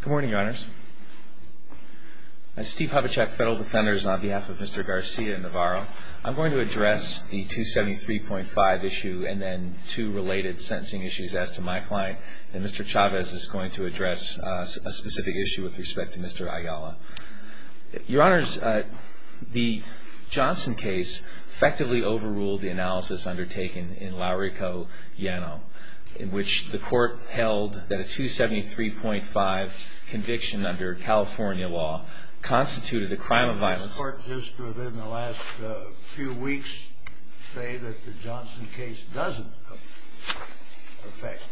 Good morning, Your Honors. I'm Steve Habachek, Federal Defenders, on behalf of Mr. Garcia-Navarro. I'm going to address the 273.5 issue and then two related sentencing issues as to my client, and Mr. Chavez is going to address a specific issue with respect to Mr. Ayala. Your Honors, the Johnson case effectively overruled the analysis undertaken in Laurico-Yano, in which the court held that a 273.5 conviction under California law constituted a crime of violence. My court just within the last few weeks say that the Johnson case doesn't affect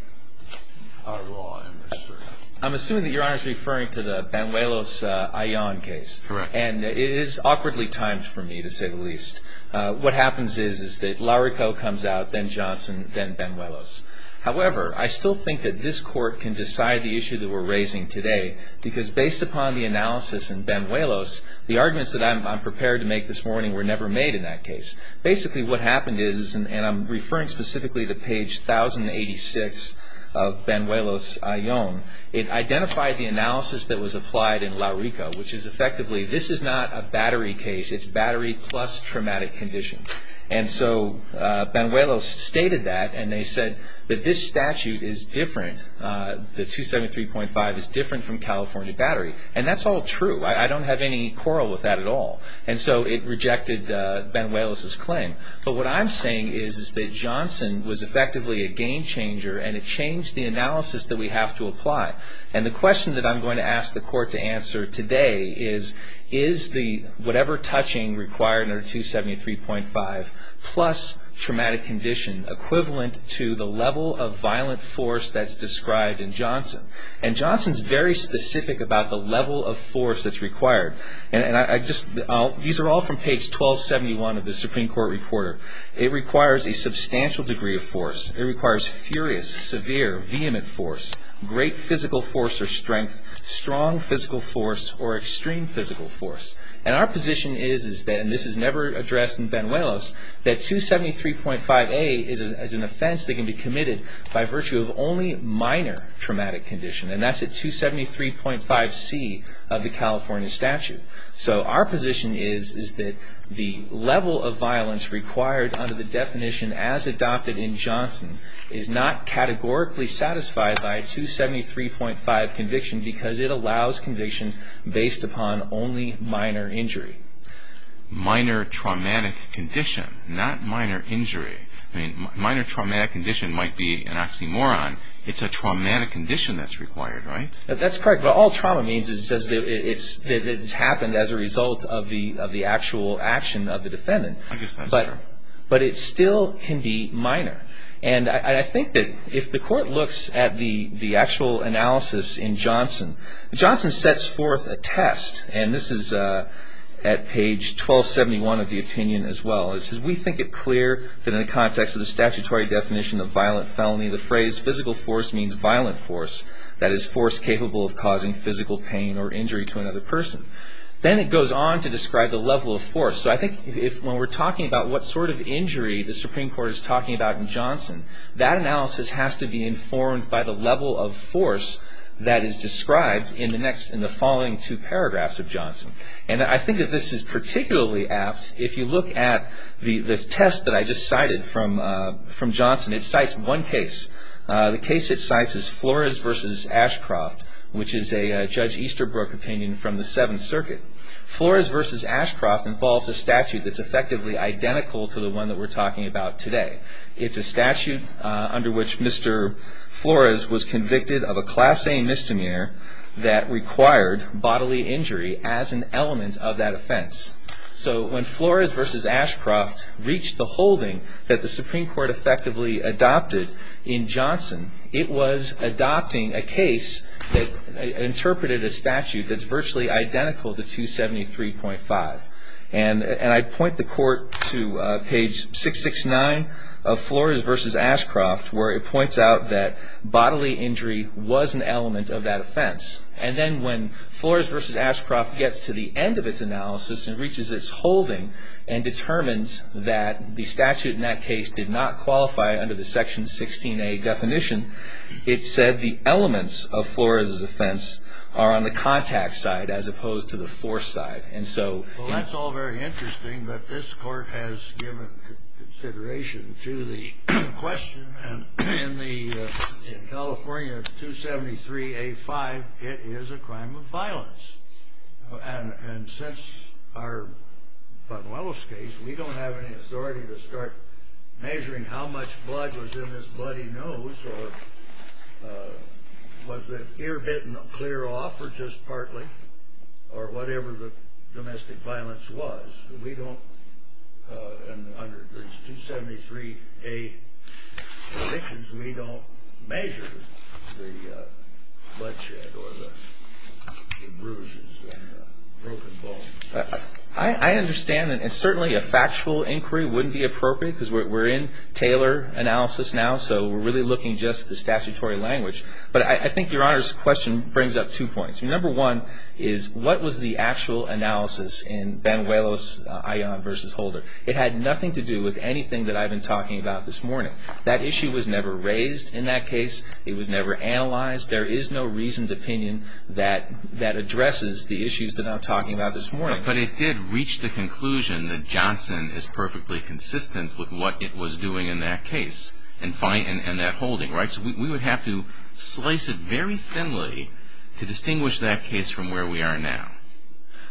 our law industry. I'm assuming that Your Honor is referring to the Banuelos-Ayala case. Correct. And it is awkwardly timed for me, to say the least. What happens is that Laurico comes out, then Johnson, then Banuelos. However, I still think that this court can decide the issue that we're raising today, because based upon the analysis in Banuelos, the arguments that I'm prepared to make this morning were never made in that case. Basically what happened is, and I'm referring specifically to page 1086 of Banuelos-Ayala, it identified the analysis that was applied in Laurico, which is effectively, this is not a battery case. It's battery plus traumatic condition. And so Banuelos stated that, and they said that this statute is different. The 273.5 is different from California battery. And that's all true. I don't have any quarrel with that at all. And so it rejected Banuelos' claim. But what I'm saying is that Johnson was effectively a game changer, and it changed the analysis that we have to apply. And the question that I'm going to ask the court to answer today is, is the whatever touching required under 273.5 plus traumatic condition equivalent to the level of violent force that's described in Johnson? And Johnson's very specific about the level of force that's required. These are all from page 1271 of the Supreme Court Reporter. It requires a substantial degree of force. It requires furious, severe, vehement force, great physical force or strength, strong physical force, or extreme physical force. And our position is, and this is never addressed in Banuelos, that 273.5A is an offense that can be committed by virtue of only minor traumatic condition. And that's at 273.5C of the California statute. So our position is that the level of violence required under the definition as adopted in Johnson is not categorically satisfied by a 273.5 conviction because it allows conviction based upon only minor injury. Minor traumatic condition, not minor injury. I mean, minor traumatic condition might be an oxymoron. It's a traumatic condition that's required, right? That's correct. But all trauma means is that it's happened as a result of the actual action of the defendant. I guess that's true. But it still can be minor. And I think that if the court looks at the actual analysis in Johnson, Johnson sets forth a test, and this is at page 1271 of the opinion as well. It says, We think it clear that in the context of the statutory definition of violent felony, the phrase physical force means violent force. That is, force capable of causing physical pain or injury to another person. Then it goes on to describe the level of force. So I think when we're talking about what sort of injury the Supreme Court is talking about in Johnson, that analysis has to be informed by the level of force that is described in the following two paragraphs of Johnson. And I think that this is particularly apt if you look at the test that I just cited from Johnson. It cites one case. The case it cites is Flores v. Ashcroft, which is a Judge Easterbrook opinion from the Seventh Circuit. Flores v. Ashcroft involves a statute that's effectively identical to the one that we're talking about today. It's a statute under which Mr. Flores was convicted of a class A misdemeanor that required bodily injury as an element of that offense. So when Flores v. Ashcroft reached the holding that the Supreme Court effectively adopted in Johnson, it was adopting a case that interpreted a statute that's virtually identical to 273.5. And I point the Court to page 669 of Flores v. Ashcroft, where it points out that bodily injury was an element of that offense. And then when Flores v. Ashcroft gets to the end of its analysis and reaches its holding and determines that the statute in that case did not qualify under the Section 16A definition, it said the elements of Flores' offense are on the contact side as opposed to the force side. Well, that's all very interesting, but this Court has given consideration to the question. And in California 273.A.5, it is a crime of violence. And since our Botanuelos case, we don't have any authority to start measuring how much blood was in his bloody nose or was the ear bitten clear off or just partly or whatever the domestic violence was. We don't, under 273.A. definitions, we don't measure the bloodshed or the bruises and broken bones. I understand, and certainly a factual inquiry wouldn't be appropriate because we're in Taylor analysis now, so we're really looking just at the statutory language. But I think Your Honor's question brings up two points. Number one is, what was the actual analysis in Banuelos-Ion v. Holder? It had nothing to do with anything that I've been talking about this morning. That issue was never raised in that case. It was never analyzed. There is no reasoned opinion that addresses the issues that I'm talking about this morning. But it did reach the conclusion that Johnson is perfectly consistent with what it was doing in that case and that holding, right? So we would have to slice it very thinly to distinguish that case from where we are now.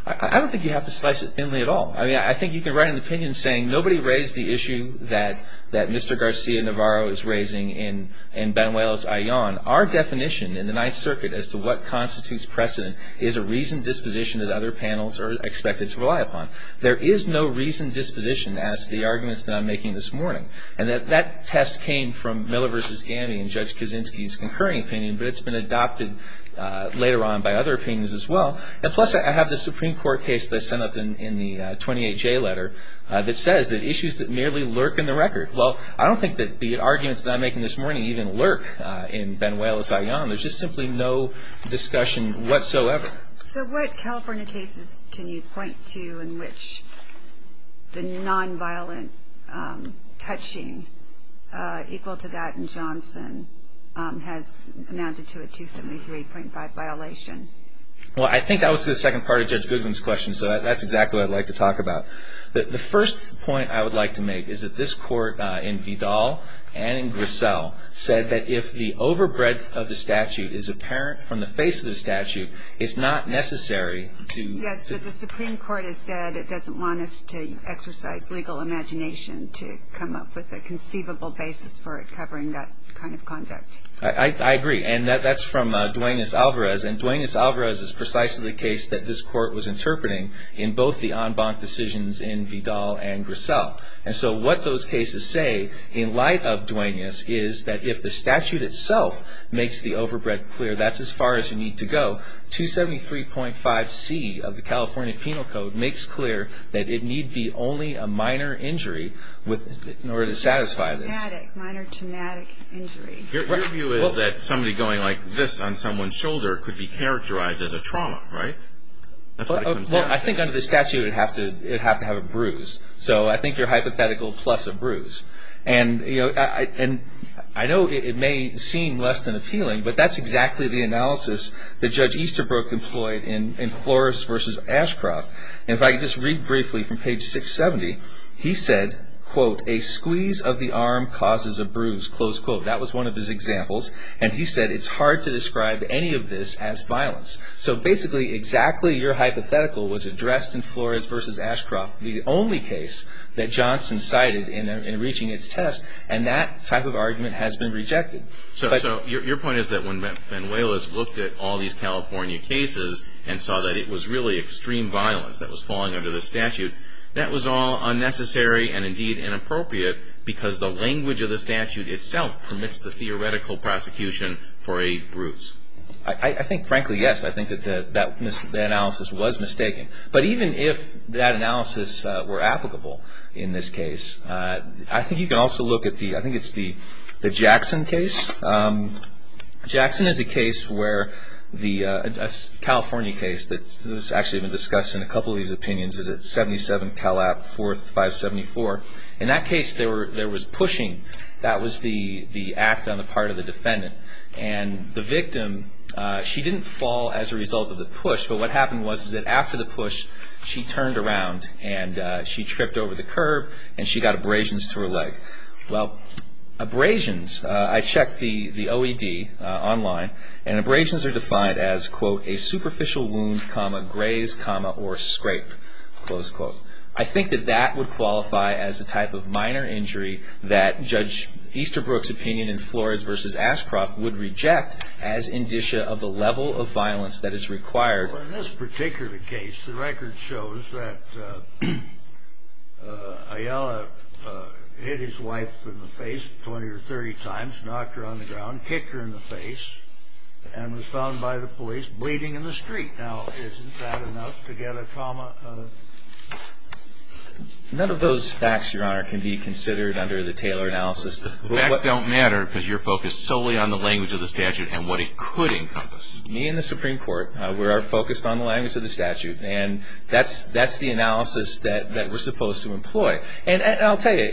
I don't think you have to slice it thinly at all. I mean, I think you can write an opinion saying nobody raised the issue that Mr. Garcia Navarro is raising in Banuelos-Ion. Our definition in the Ninth Circuit as to what constitutes precedent is a reasoned disposition that other panels are expected to rely upon. There is no reasoned disposition as to the arguments that I'm making this morning. And that test came from Miller v. Gandy and Judge Kaczynski's concurring opinion, but it's been adopted later on by other opinions as well. And plus, I have the Supreme Court case that I sent up in the 28-J letter that says that issues that merely lurk in the record. Well, I don't think that the arguments that I'm making this morning even lurk in Banuelos-Ion. There's just simply no discussion whatsoever. So what California cases can you point to in which the nonviolent touching equal to that in Johnson has amounted to a 273.5 violation? Well, I think that was the second part of Judge Goodwin's question, so that's exactly what I'd like to talk about. The first point I would like to make is that this Court in Vidal and in Griselle said that if the overbreadth of the statute is apparent from the face of the statute, it's not necessary to- Yes, but the Supreme Court has said it doesn't want us to exercise legal imagination to come up with a conceivable basis for it covering that kind of conduct. I agree. And that's from Duenas-Alvarez. And Duenas-Alvarez is precisely the case that this Court was interpreting in both the en banc decisions in Vidal and Griselle. And so what those cases say in light of Duenas is that if the statute itself makes the overbreadth clear, that's as far as you need to go. 273.5C of the California Penal Code makes clear that it need be only a minor injury in order to satisfy this. Minor traumatic injury. Your view is that somebody going like this on someone's shoulder could be characterized as a trauma, right? Well, I think under the statute it would have to have a bruise. So I think you're hypothetical plus a bruise. And I know it may seem less than appealing, but that's exactly the analysis that Judge Easterbrook employed in Flores v. Ashcroft. And if I could just read briefly from page 670, he said, quote, a squeeze of the arm causes a bruise, close quote. That was one of his examples. And he said it's hard to describe any of this as violence. So basically exactly your hypothetical was addressed in Flores v. Ashcroft, the only case that Johnson cited in reaching its test. And that type of argument has been rejected. So your point is that when Benuelas looked at all these California cases and saw that it was really extreme violence that was falling under the statute, that was all unnecessary and indeed inappropriate because the language of the statute itself permits the theoretical prosecution for a bruise. I think, frankly, yes. I think that that analysis was mistaken. But even if that analysis were applicable in this case, I think you can also look at the – I think it's the Jackson case. Jackson is a case where the – a California case that's actually been discussed in a couple of these opinions. It's at 77 Calap 4574. In that case there was pushing. That was the act on the part of the defendant. And the victim, she didn't fall as a result of the push. But what happened was that after the push she turned around and she tripped over the curb and she got abrasions to her leg. Well, abrasions, I checked the OED online, and abrasions are defined as, quote, a superficial wound, comma, graze, comma, or scrape, close quote. I think that that would qualify as a type of minor injury that Judge Easterbrook's opinion in Flores v. Ashcroft would reject as indicia of the level of violence that is required. Well, in this particular case, the record shows that Ayala hit his wife in the face 20 or 30 times, knocked her on the ground, kicked her in the face, and was found by the police bleeding in the street. Now, isn't that enough to get a comma? None of those facts, Your Honor, can be considered under the Taylor analysis. Facts don't matter because you're focused solely on the language of the statute and what it could encompass. Me and the Supreme Court, we are focused on the language of the statute. And that's the analysis that we're supposed to employ. And I'll tell you,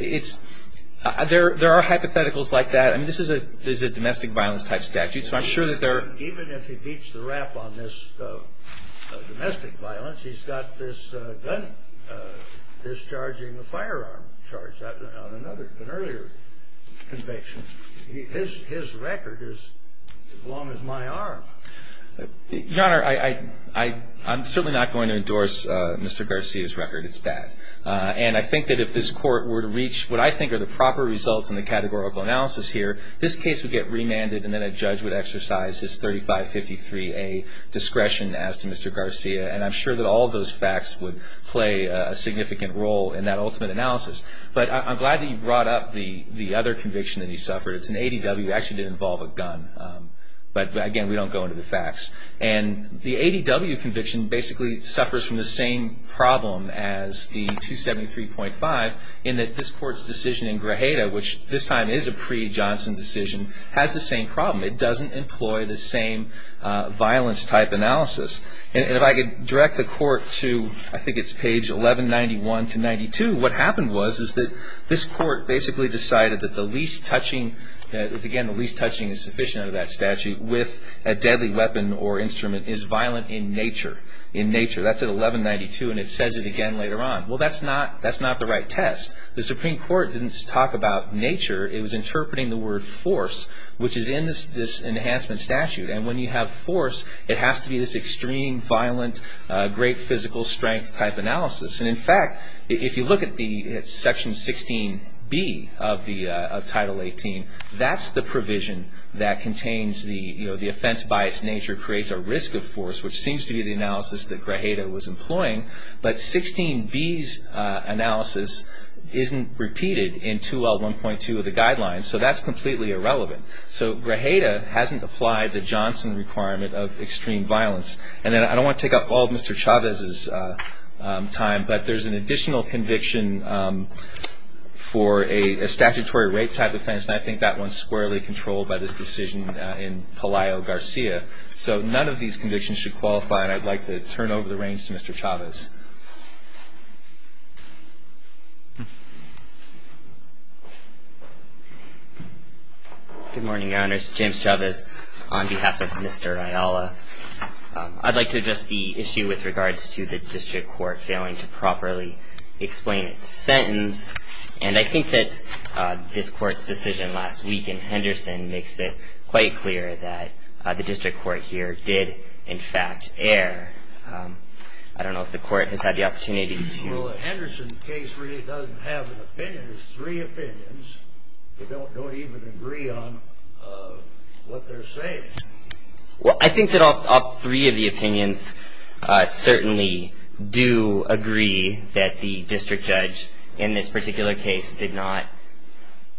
there are hypotheticals like that. I mean, this is a domestic violence type statute, so I'm sure that there are. Even if he beats the rap on this domestic violence, he's got this gun discharging a firearm charge on an earlier conviction. His record is as long as my arm. Your Honor, I'm certainly not going to endorse Mr. Garcia's record. It's bad. And I think that if this Court were to reach what I think are the proper results in the categorical analysis here, this case would get remanded and then a judge would exercise his 3553A discretion as to Mr. Garcia. And I'm sure that all of those facts would play a significant role in that ultimate analysis. But I'm glad that you brought up the other conviction that he suffered. It's an ADW. It actually did involve a gun. But, again, we don't go into the facts. And the ADW conviction basically suffers from the same problem as the 273.5, in that this Court's decision in Grajeda, which this time is a pre-Johnson decision, has the same problem. It doesn't employ the same violence type analysis. And if I could direct the Court to, I think it's page 1191 to 92, what happened was is that this Court basically decided that the least touching, again, the least touching is sufficient under that statute, with a deadly weapon or instrument is violent in nature. In nature. That's at 1192, and it says it again later on. Well, that's not the right test. The Supreme Court didn't talk about nature. It was interpreting the word force, which is in this enhancement statute. And when you have force, it has to be this extreme, violent, great physical strength type analysis. And, in fact, if you look at Section 16B of Title 18, that's the provision that contains the offense by its nature creates a risk of force, which seems to be the analysis that Grajeda was employing. But 16B's analysis isn't repeated in 2L1.2 of the guidelines, so that's completely irrelevant. So Grajeda hasn't applied the Johnson requirement of extreme violence. And then I don't want to take up all of Mr. Chavez's time, but there's an additional conviction for a statutory rape type offense, and I think that one's squarely controlled by this decision in Palaio Garcia. So none of these convictions should qualify, and I'd like to turn over the reins to Mr. Chavez. Good morning, Your Honors. James Chavez on behalf of Mr. Ayala. I'd like to address the issue with regards to the district court failing to properly explain its sentence. And I think that this Court's decision last week in Henderson makes it quite clear that the district court here did, in fact, err. I don't know if the Court has had the opportunity to ---- Well, the Henderson case really doesn't have an opinion. It has three opinions. They don't even agree on what they're saying. Well, I think that all three of the opinions certainly do agree that the district judge in this particular case did not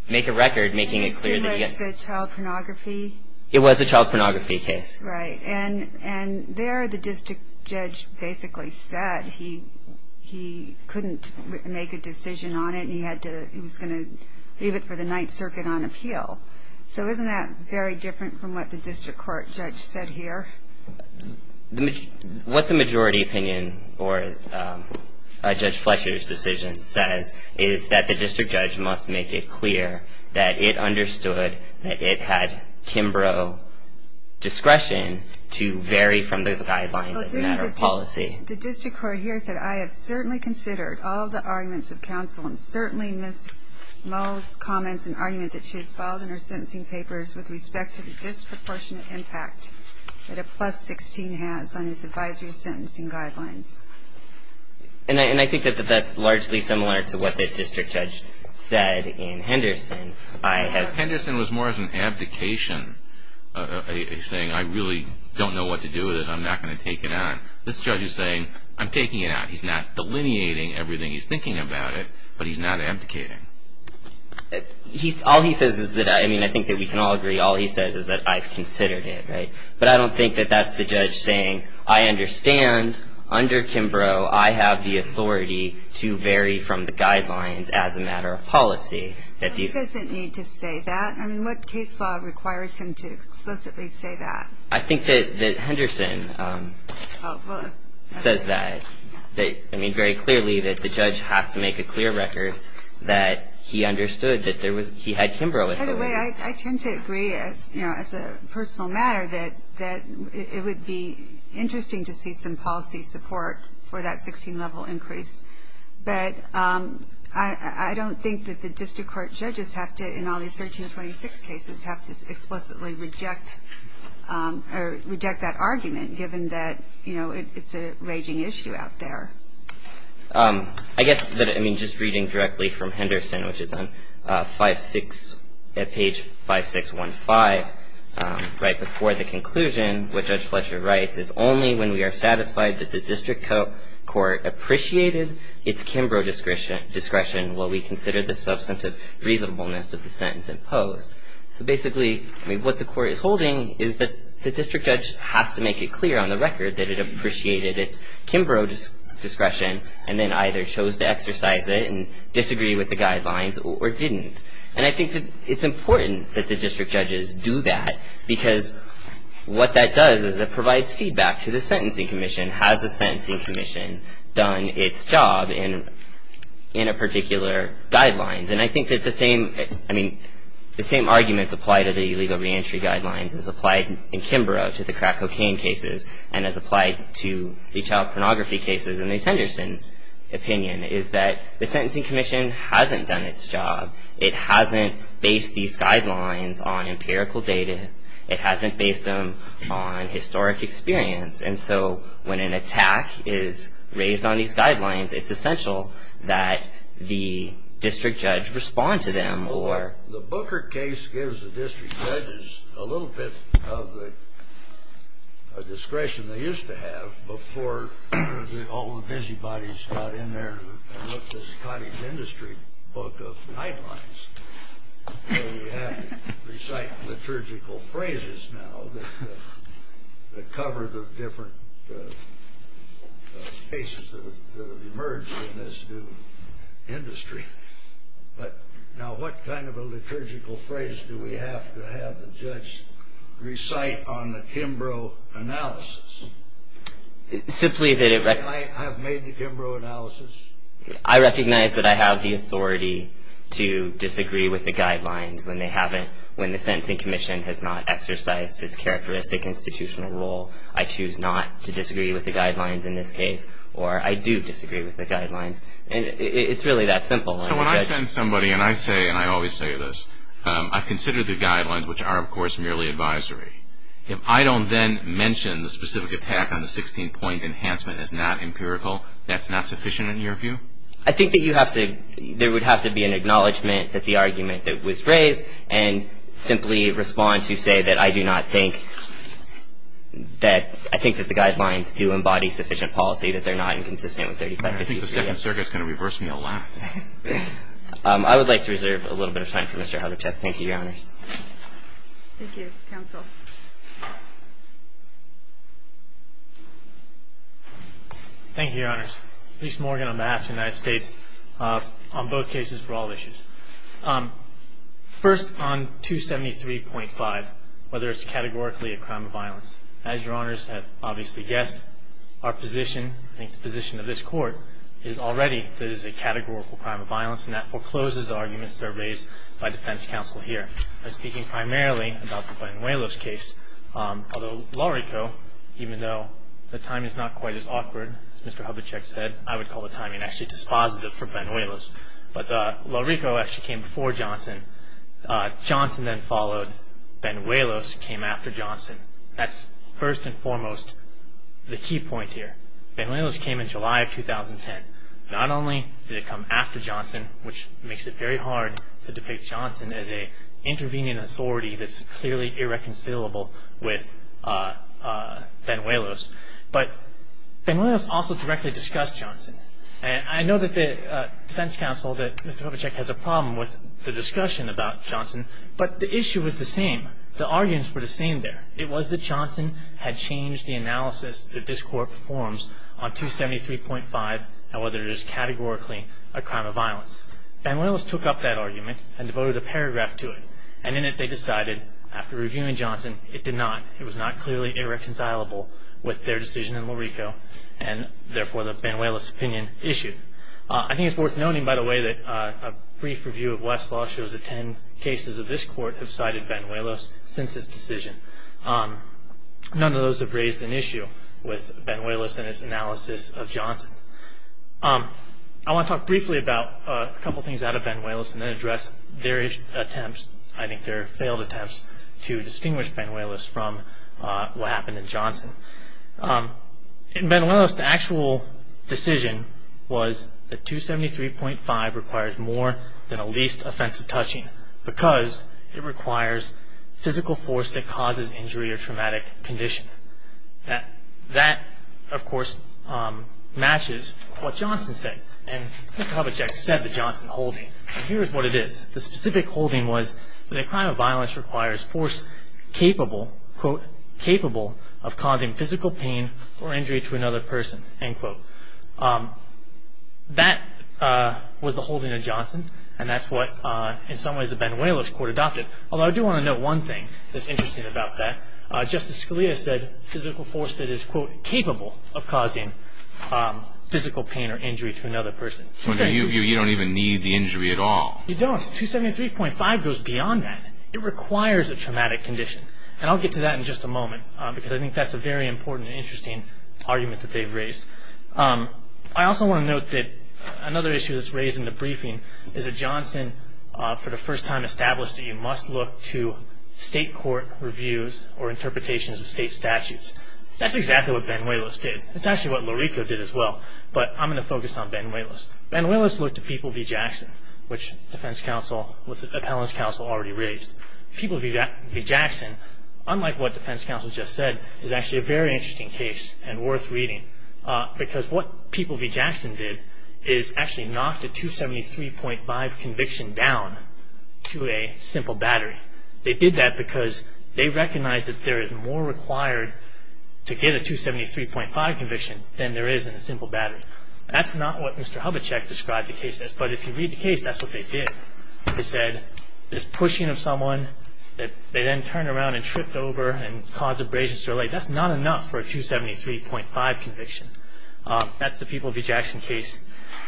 make a record, making it clear that he had. It was the child pornography? It was a child pornography case. Right. And there the district judge basically said he couldn't make a decision on it, and he was going to leave it for the Ninth Circuit on appeal. So isn't that very different from what the district court judge said here? What the majority opinion or Judge Fletcher's decision says is that the district judge must make it clear that it understood that it had Kimbrough discretion to vary from the guidelines as a matter of policy. The district court here said, I have certainly considered all the arguments of counsel and certainly missed most comments and argument that she has filed in her sentencing papers with respect to the disproportionate impact that a plus 16 has on his advisory sentencing guidelines. And I think that that's largely similar to what the district judge said in Henderson. Henderson was more of an abdication, saying I really don't know what to do with this. I'm not going to take it on. This judge is saying I'm taking it out. He's not delineating everything he's thinking about it, but he's not abdicating. He's all he says is that I mean, I think that we can all agree. All he says is that I've considered it. But I don't think that that's the judge saying, I understand under Kimbrough, I have the authority to vary from the guidelines as a matter of policy. That doesn't need to say that. I mean, what case law requires him to explicitly say that? I think that Henderson says that. I mean, very clearly that the judge has to make a clear record that he understood that he had Kimbrough. By the way, I tend to agree as a personal matter that it would be interesting to see some policy support for that 16-level increase. But I don't think that the district court judges have to, in all these 1326 cases, have to explicitly reject that argument, given that, you know, it's a raging issue out there. I guess that, I mean, just reading directly from Henderson, which is on page 5615, right before the conclusion, what Judge Fletcher writes is, only when we are satisfied that the district court appreciated its Kimbrough discretion will we consider the substantive reasonableness of the sentence imposed. So basically, I mean, what the court is holding is that the district judge has to make it clear on the record that it appreciated its Kimbrough discretion and then either chose to exercise it and disagree with the guidelines or didn't. And I think that it's important that the district judges do that, because what that does is it provides feedback to the sentencing commission. Has the sentencing commission done its job in a particular guideline? And I think that the same, I mean, the same arguments applied to the illegal reentry guidelines as applied in Kimbrough to the crack cocaine cases and as applied to the child pornography cases in the Henderson opinion is that the sentencing commission hasn't done its job. It hasn't based these guidelines on empirical data. It hasn't based them on historic experience. And so when an attack is raised on these guidelines, it's essential that the district judge respond to them. Well, the Booker case gives the district judges a little bit of the discretion they used to have before all the busybodies got in there and looked at this cottage industry book of guidelines. We have to recite liturgical phrases now that cover the different cases that have emerged in this new industry. But now what kind of a liturgical phrase do we have to have the judge recite on the Kimbrough analysis? Simply that it… Can I have made the Kimbrough analysis? I recognize that I have the authority to disagree with the guidelines when they haven't, when the sentencing commission has not exercised its characteristic institutional role. I choose not to disagree with the guidelines in this case. Or I do disagree with the guidelines. And it's really that simple. So when I send somebody and I say, and I always say this, I've considered the guidelines, which are, of course, merely advisory. If I don't then mention the specific attack on the 16-point enhancement is not empirical, that's not sufficient in your view? I think that you have to, there would have to be an acknowledgment that the argument that was raised and simply respond to say that I do not think that, I think that the guidelines do embody sufficient policy that they're not inconsistent with 3553. I think the second circuit is going to reverse me a lot. I would like to reserve a little bit of time for Mr. Hubbachev. Thank you, Your Honors. Thank you, counsel. Thank you, Your Honors. Bruce Morgan on behalf of the United States on both cases for all issues. First, on 273.5, whether it's categorically a crime of violence. As Your Honors have obviously guessed, our position, I think the position of this Court, is already that it is a categorical crime of violence, and that forecloses arguments that are raised by defense counsel here. I'm speaking primarily about the Benuelos case. Although LaRico, even though the timing is not quite as awkward as Mr. Hubbachev said, I would call the timing actually dispositive for Benuelos. But LaRico actually came before Johnson. Johnson then followed. Benuelos came after Johnson. That's first and foremost the key point here. Benuelos came in July of 2010. Not only did it come after Johnson, which makes it very hard to depict Johnson as an intervening authority that's clearly irreconcilable with Benuelos, but Benuelos also directly discussed Johnson. I know that the defense counsel, that Mr. Hubbachev, has a problem with the discussion about Johnson, but the issue was the same. The arguments were the same there. It was that Johnson had changed the analysis that this Court performs on 273.5. And whether it is categorically a crime of violence. Benuelos took up that argument and devoted a paragraph to it. And in it they decided, after reviewing Johnson, it did not. It was not clearly irreconcilable with their decision in LaRico, and therefore the Benuelos opinion issued. I think it's worth noting, by the way, that a brief review of Westlaw shows that ten cases of this Court have cited Benuelos since his decision. None of those have raised an issue with Benuelos and his analysis of Johnson. I want to talk briefly about a couple things out of Benuelos and then address their attempts, I think their failed attempts, to distinguish Benuelos from what happened in Johnson. In Benuelos, the actual decision was that 273.5 requires more than a least offensive touching because it requires physical force that causes injury or traumatic condition. That, of course, matches what Johnson said. And Mr. Hubachek said the Johnson holding. And here is what it is. The specific holding was that a crime of violence requires force capable, quote, capable of causing physical pain or injury to another person, end quote. That was the holding of Johnson, and that's what in some ways the Benuelos Court adopted. Although I do want to note one thing that's interesting about that. Justice Scalia said physical force that is, quote, capable of causing physical pain or injury to another person. You don't even need the injury at all. You don't. 273.5 goes beyond that. It requires a traumatic condition. And I'll get to that in just a moment because I think that's a very important and interesting argument that they've raised. I also want to note that another issue that's raised in the briefing is that Johnson, for the first time, established that you must look to state court reviews or interpretations of state statutes. That's exactly what Benuelos did. That's actually what Loreco did as well. But I'm going to focus on Benuelos. Benuelos looked to People v. Jackson, which the defense counsel with the appellant's counsel already raised. People v. Jackson, unlike what the defense counsel just said, is actually a very interesting case and worth reading because what People v. Jackson did is actually knock the 273.5 conviction down to a simple battery. They did that because they recognized that there is more required to get a 273.5 conviction than there is in a simple battery. That's not what Mr. Hubachek described the case as, but if you read the case, that's what they did. They said this pushing of someone that they then turned around and tripped over and caused abrasions to her leg, that's not enough for a 273.5 conviction. That's the People v. Jackson case.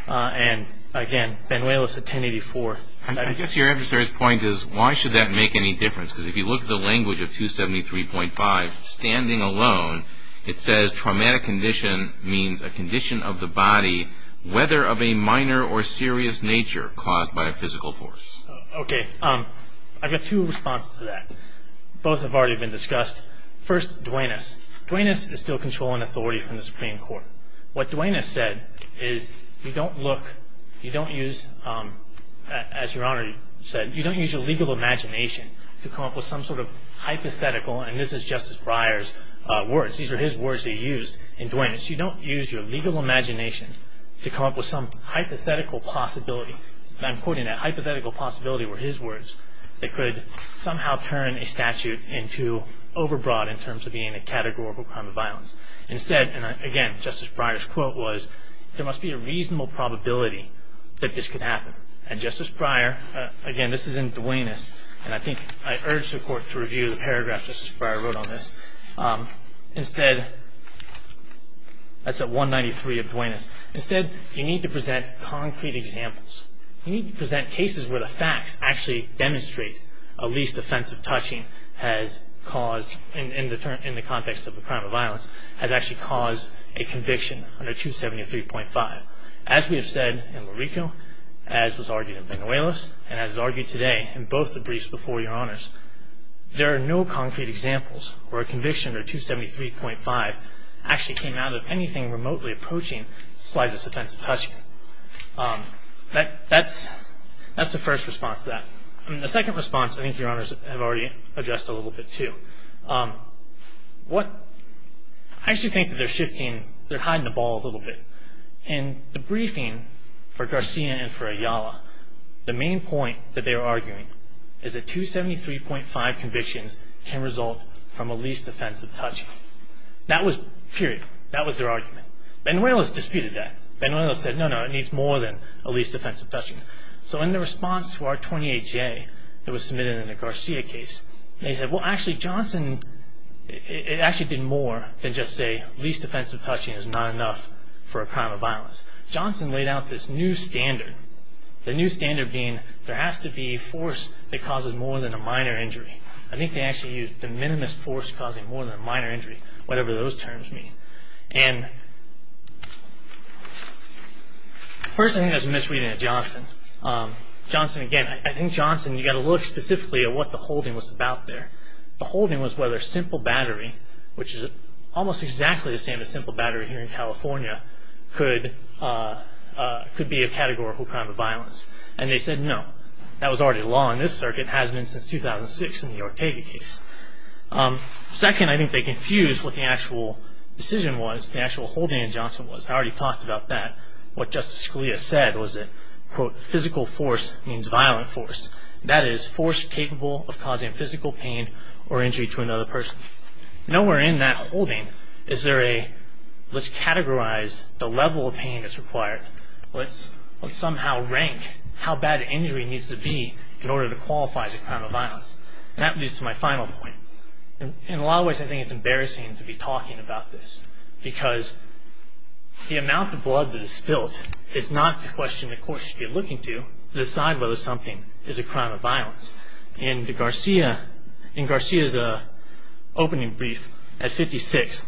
And, again, Benuelos at 1084 said it. I guess your adversary's point is why should that make any difference? Because if you look at the language of 273.5, standing alone, it says traumatic condition means a condition of the body, whether of a minor or serious nature caused by a physical force. Okay. I've got two responses to that. Both have already been discussed. First, Duenas. Duenas is still controlling authority from the Supreme Court. What Duenas said is you don't look, you don't use, as Your Honor said, you don't use your legal imagination to come up with some sort of hypothetical, and this is Justice Breyer's words. These are his words that he used in Duenas. You don't use your legal imagination to come up with some hypothetical possibility, and I'm quoting that hypothetical possibility were his words, that could somehow turn a statute into overbroad in terms of being a categorical crime of violence. Instead, and, again, Justice Breyer's quote was, there must be a reasonable probability that this could happen. And Justice Breyer, again, this is in Duenas, and I think I urge the Court to review the paragraph Justice Breyer wrote on this. Instead, that's at 193 of Duenas. Instead, you need to present concrete examples. You need to present cases where the facts actually demonstrate a least offensive touching has caused, in the context of a crime of violence, has actually caused a conviction under 273.5. As we have said in Marico, as was argued in Venuelos, and as is argued today in both the briefs before Your Honors, there are no concrete examples where a conviction under 273.5 actually came out of anything remotely approaching slightest offensive touching. That's the first response to that. The second response, I think Your Honors have already addressed a little bit, too. I actually think that they're shifting, they're hiding the ball a little bit. In the briefing for Garcia and for Ayala, the main point that they were arguing is that 273.5 convictions can result from a least offensive touching. That was, period, that was their argument. Venuelos disputed that. Venuelos said, no, no, it needs more than a least offensive touching. So in the response to R-28J that was submitted in the Garcia case, they said, well, actually, Johnson, it actually did more than just say least offensive touching is not enough for a crime of violence. Johnson laid out this new standard, the new standard being there has to be force that causes more than a minor injury. I think they actually used de minimis force causing more than a minor injury, whatever those terms mean. First, I think there's a misreading of Johnson. Johnson, again, I think Johnson, you've got to look specifically at what the holding was about there. The holding was whether simple battery, which is almost exactly the same as simple battery here in California, could be a categorical crime of violence. And they said no. That was already law in this circuit. It hasn't been since 2006 in the Ortega case. Second, I think they confused what the actual decision was, the actual holding in Johnson was. I already talked about that. What Justice Scalia said was that, quote, physical force means violent force. That is force capable of causing physical pain or injury to another person. Nowhere in that holding is there a let's categorize the level of pain that's required. Let's somehow rank how bad the injury needs to be in order to qualify as a crime of violence. That leads to my final point. In a lot of ways, I think it's embarrassing to be talking about this because the amount of blood that is spilled is not the question the court should be looking to to decide whether something is a crime of violence. In Garcia's opening brief at 56,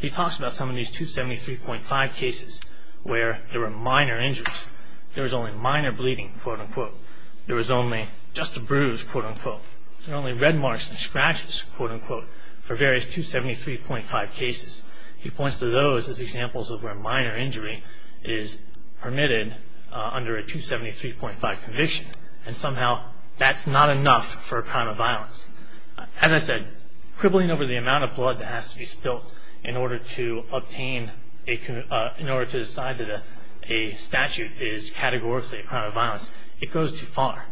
he talks about some of these 273.5 cases where there were minor injuries. There was only minor bleeding, quote, unquote. There was only just a bruise, quote, unquote. There were only red marks and scratches, quote, unquote, for various 273.5 cases. He points to those as examples of where minor injury is permitted under a 273.5 conviction. And somehow that's not enough for a crime of violence. As I said, quibbling over the amount of blood that has to be spilled in order to obtain, in order to decide that a statute is categorically a crime of violence, it goes too far.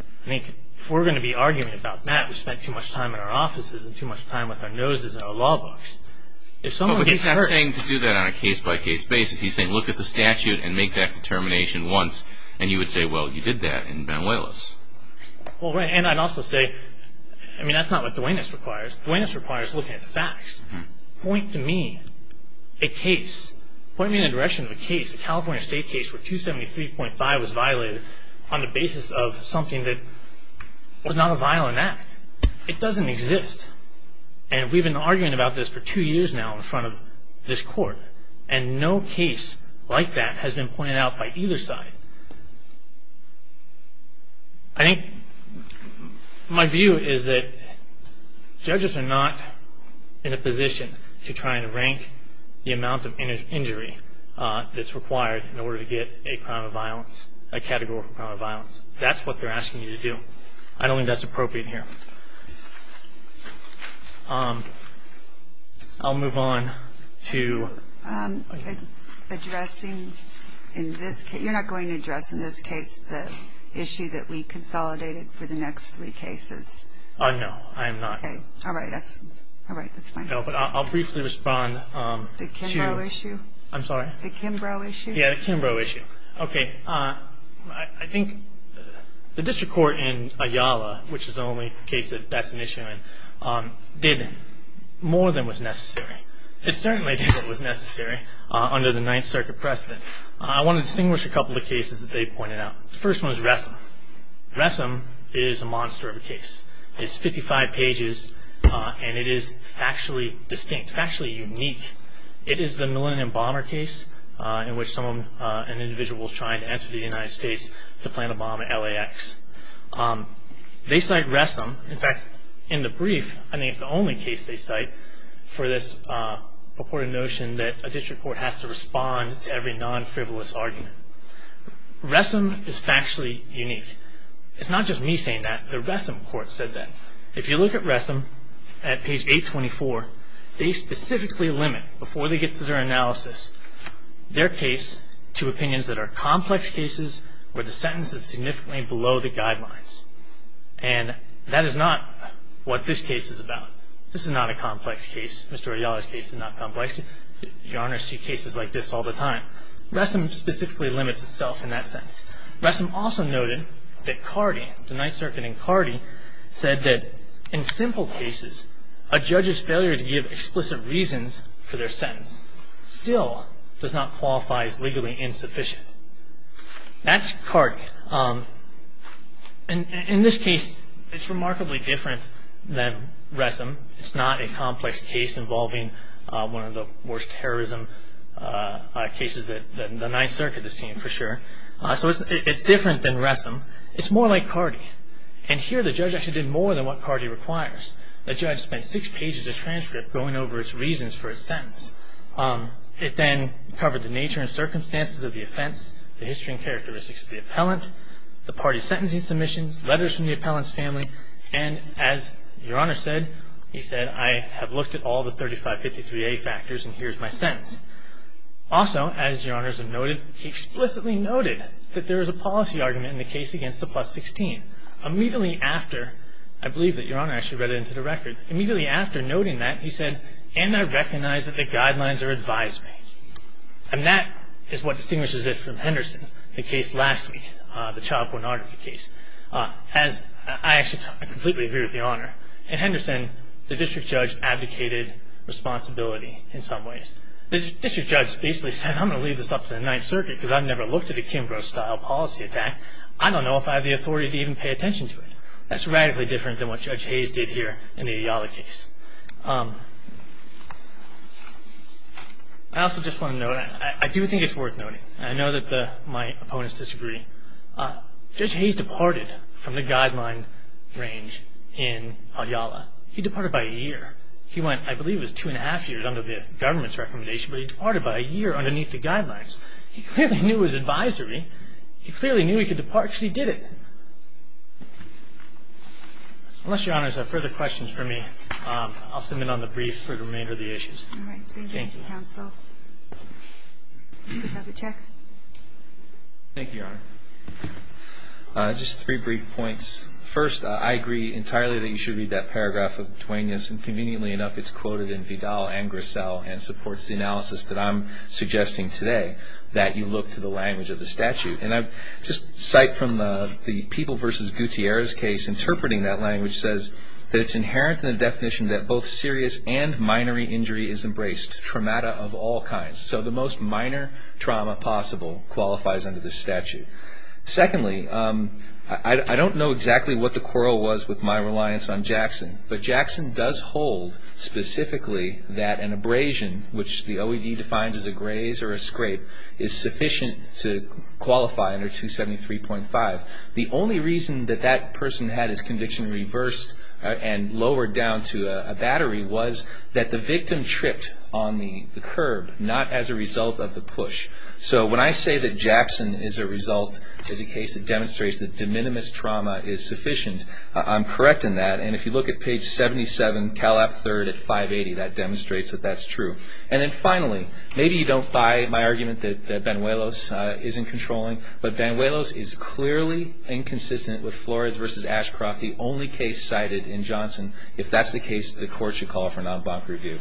I think if we're going to be arguing about that, we've spent too much time in our offices and too much time with our noses in our law books. If someone gets hurt- But he's not saying to do that on a case-by-case basis. He's saying look at the statute and make that determination once, and you would say, well, you did that in Benuelos. Well, right. And I'd also say, I mean, that's not what Duenas requires. Duenas requires looking at the facts. Point to me a case. Point me in the direction of a case, a California state case, where 273.5 was violated on the basis of something that was not a violent act. It doesn't exist. And we've been arguing about this for two years now in front of this court, and no case like that has been pointed out by either side. I think my view is that judges are not in a position to try and rank the amount of injury that's required in order to get a crime of violence, a categorical crime of violence. That's what they're asking you to do. I don't think that's appropriate here. I'll move on to addressing in this case. You're not going to address in this case the issue that we consolidated for the next three cases? No, I am not. Okay. All right. That's fine. No, but I'll briefly respond. The Kimbrough issue? I'm sorry? The Kimbrough issue? Yeah, the Kimbrough issue. Okay. I think the district court in Ayala, which is the only case that that's an issue in, did more than was necessary. It certainly did what was necessary under the Ninth Circuit precedent. I want to distinguish a couple of cases that they pointed out. The first one is Ressam. Ressam is a monster of a case. It's 55 pages, and it is factually distinct, factually unique. It is the Millennium Bomber case in which someone, an individual, was trying to enter the United States to plant a bomb at LAX. They cite Ressam. In fact, in the brief, I think it's the only case they cite for this purported notion that a district court has to respond to every non-frivolous argument. Ressam is factually unique. It's not just me saying that. The Ressam court said that. If you look at Ressam at page 824, they specifically limit, before they get to their analysis, their case to opinions that are complex cases where the sentence is significantly below the guidelines. And that is not what this case is about. This is not a complex case. Mr. Ayala's case is not complex. Your Honors see cases like this all the time. Ressam specifically limits itself in that sense. Ressam also noted that Cardee, the Ninth Circuit in Cardee, said that in simple cases, a judge's failure to give explicit reasons for their sentence still does not qualify as legally insufficient. That's Cardee. In this case, it's remarkably different than Ressam. It's not a complex case involving one of the worst terrorism cases that the Ninth Circuit has seen, for sure. So it's different than Ressam. It's more like Cardee. And here the judge actually did more than what Cardee requires. The judge spent six pages of transcript going over its reasons for its sentence. It then covered the nature and circumstances of the offense, the history and characteristics of the appellant, the party's sentencing submissions, letters from the appellant's family, and as Your Honor said, he said, I have looked at all the 3553A factors and here's my sentence. Also, as Your Honor has noted, he explicitly noted that there is a policy argument in the case against the plus 16. Immediately after, I believe that Your Honor actually read it into the record, immediately after noting that, he said, and I recognize that the guidelines are advisory. And that is what distinguishes it from Henderson, the case last week, the Child Pornography case. I actually completely agree with Your Honor. In Henderson, the district judge abdicated responsibility in some ways. The district judge basically said, I'm going to leave this up to the Ninth Circuit because I've never looked at a Kimbrough-style policy attack. I don't know if I have the authority to even pay attention to it. That's radically different than what Judge Hayes did here in the Ayala case. I also just want to note, I do think it's worth noting, and I know that my opponents disagree, Judge Hayes departed from the guideline range in Ayala. He departed by a year. He went, I believe it was two and a half years under the government's recommendation, but he departed by a year underneath the guidelines. He clearly knew his advisory. He clearly knew he could depart. Actually, he did it. Unless Your Honors have further questions for me, I'll send in on the brief for the remainder of the issues. All right. Thank you, counsel. Thank you. Mr. Pavichak. Thank you, Your Honor. Just three brief points. First, I agree entirely that you should read that paragraph of Duenas, and conveniently enough it's quoted in Vidal and Grissel and supports the analysis that I'm suggesting today, that you look to the language of the statute. And I just cite from the People v. Gutierrez case, interpreting that language says that it's inherent in the definition that both serious and minor injury is embraced, trauma of all kinds. So the most minor trauma possible qualifies under this statute. Secondly, I don't know exactly what the quarrel was with my reliance on Jackson, but Jackson does hold specifically that an abrasion, which the OED defines as a graze or a scrape, is sufficient to qualify under 273.5. The only reason that that person had his conviction reversed and lowered down to a battery was that the victim tripped on the curb, not as a result of the push. So when I say that Jackson is a result, is a case that demonstrates that de minimis trauma is sufficient, I'm correct in that. And if you look at page 77, Cal F-3rd at 580, that demonstrates that that's true. And then finally, maybe you don't buy my argument that Banuelos isn't controlling, but Banuelos is clearly inconsistent with Flores v. Ashcroft, the only case cited in Johnson. If that's the case, the Court should call for an en banc review.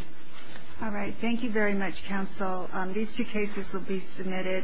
All right. Thank you very much, counsel. These two cases will be submitted.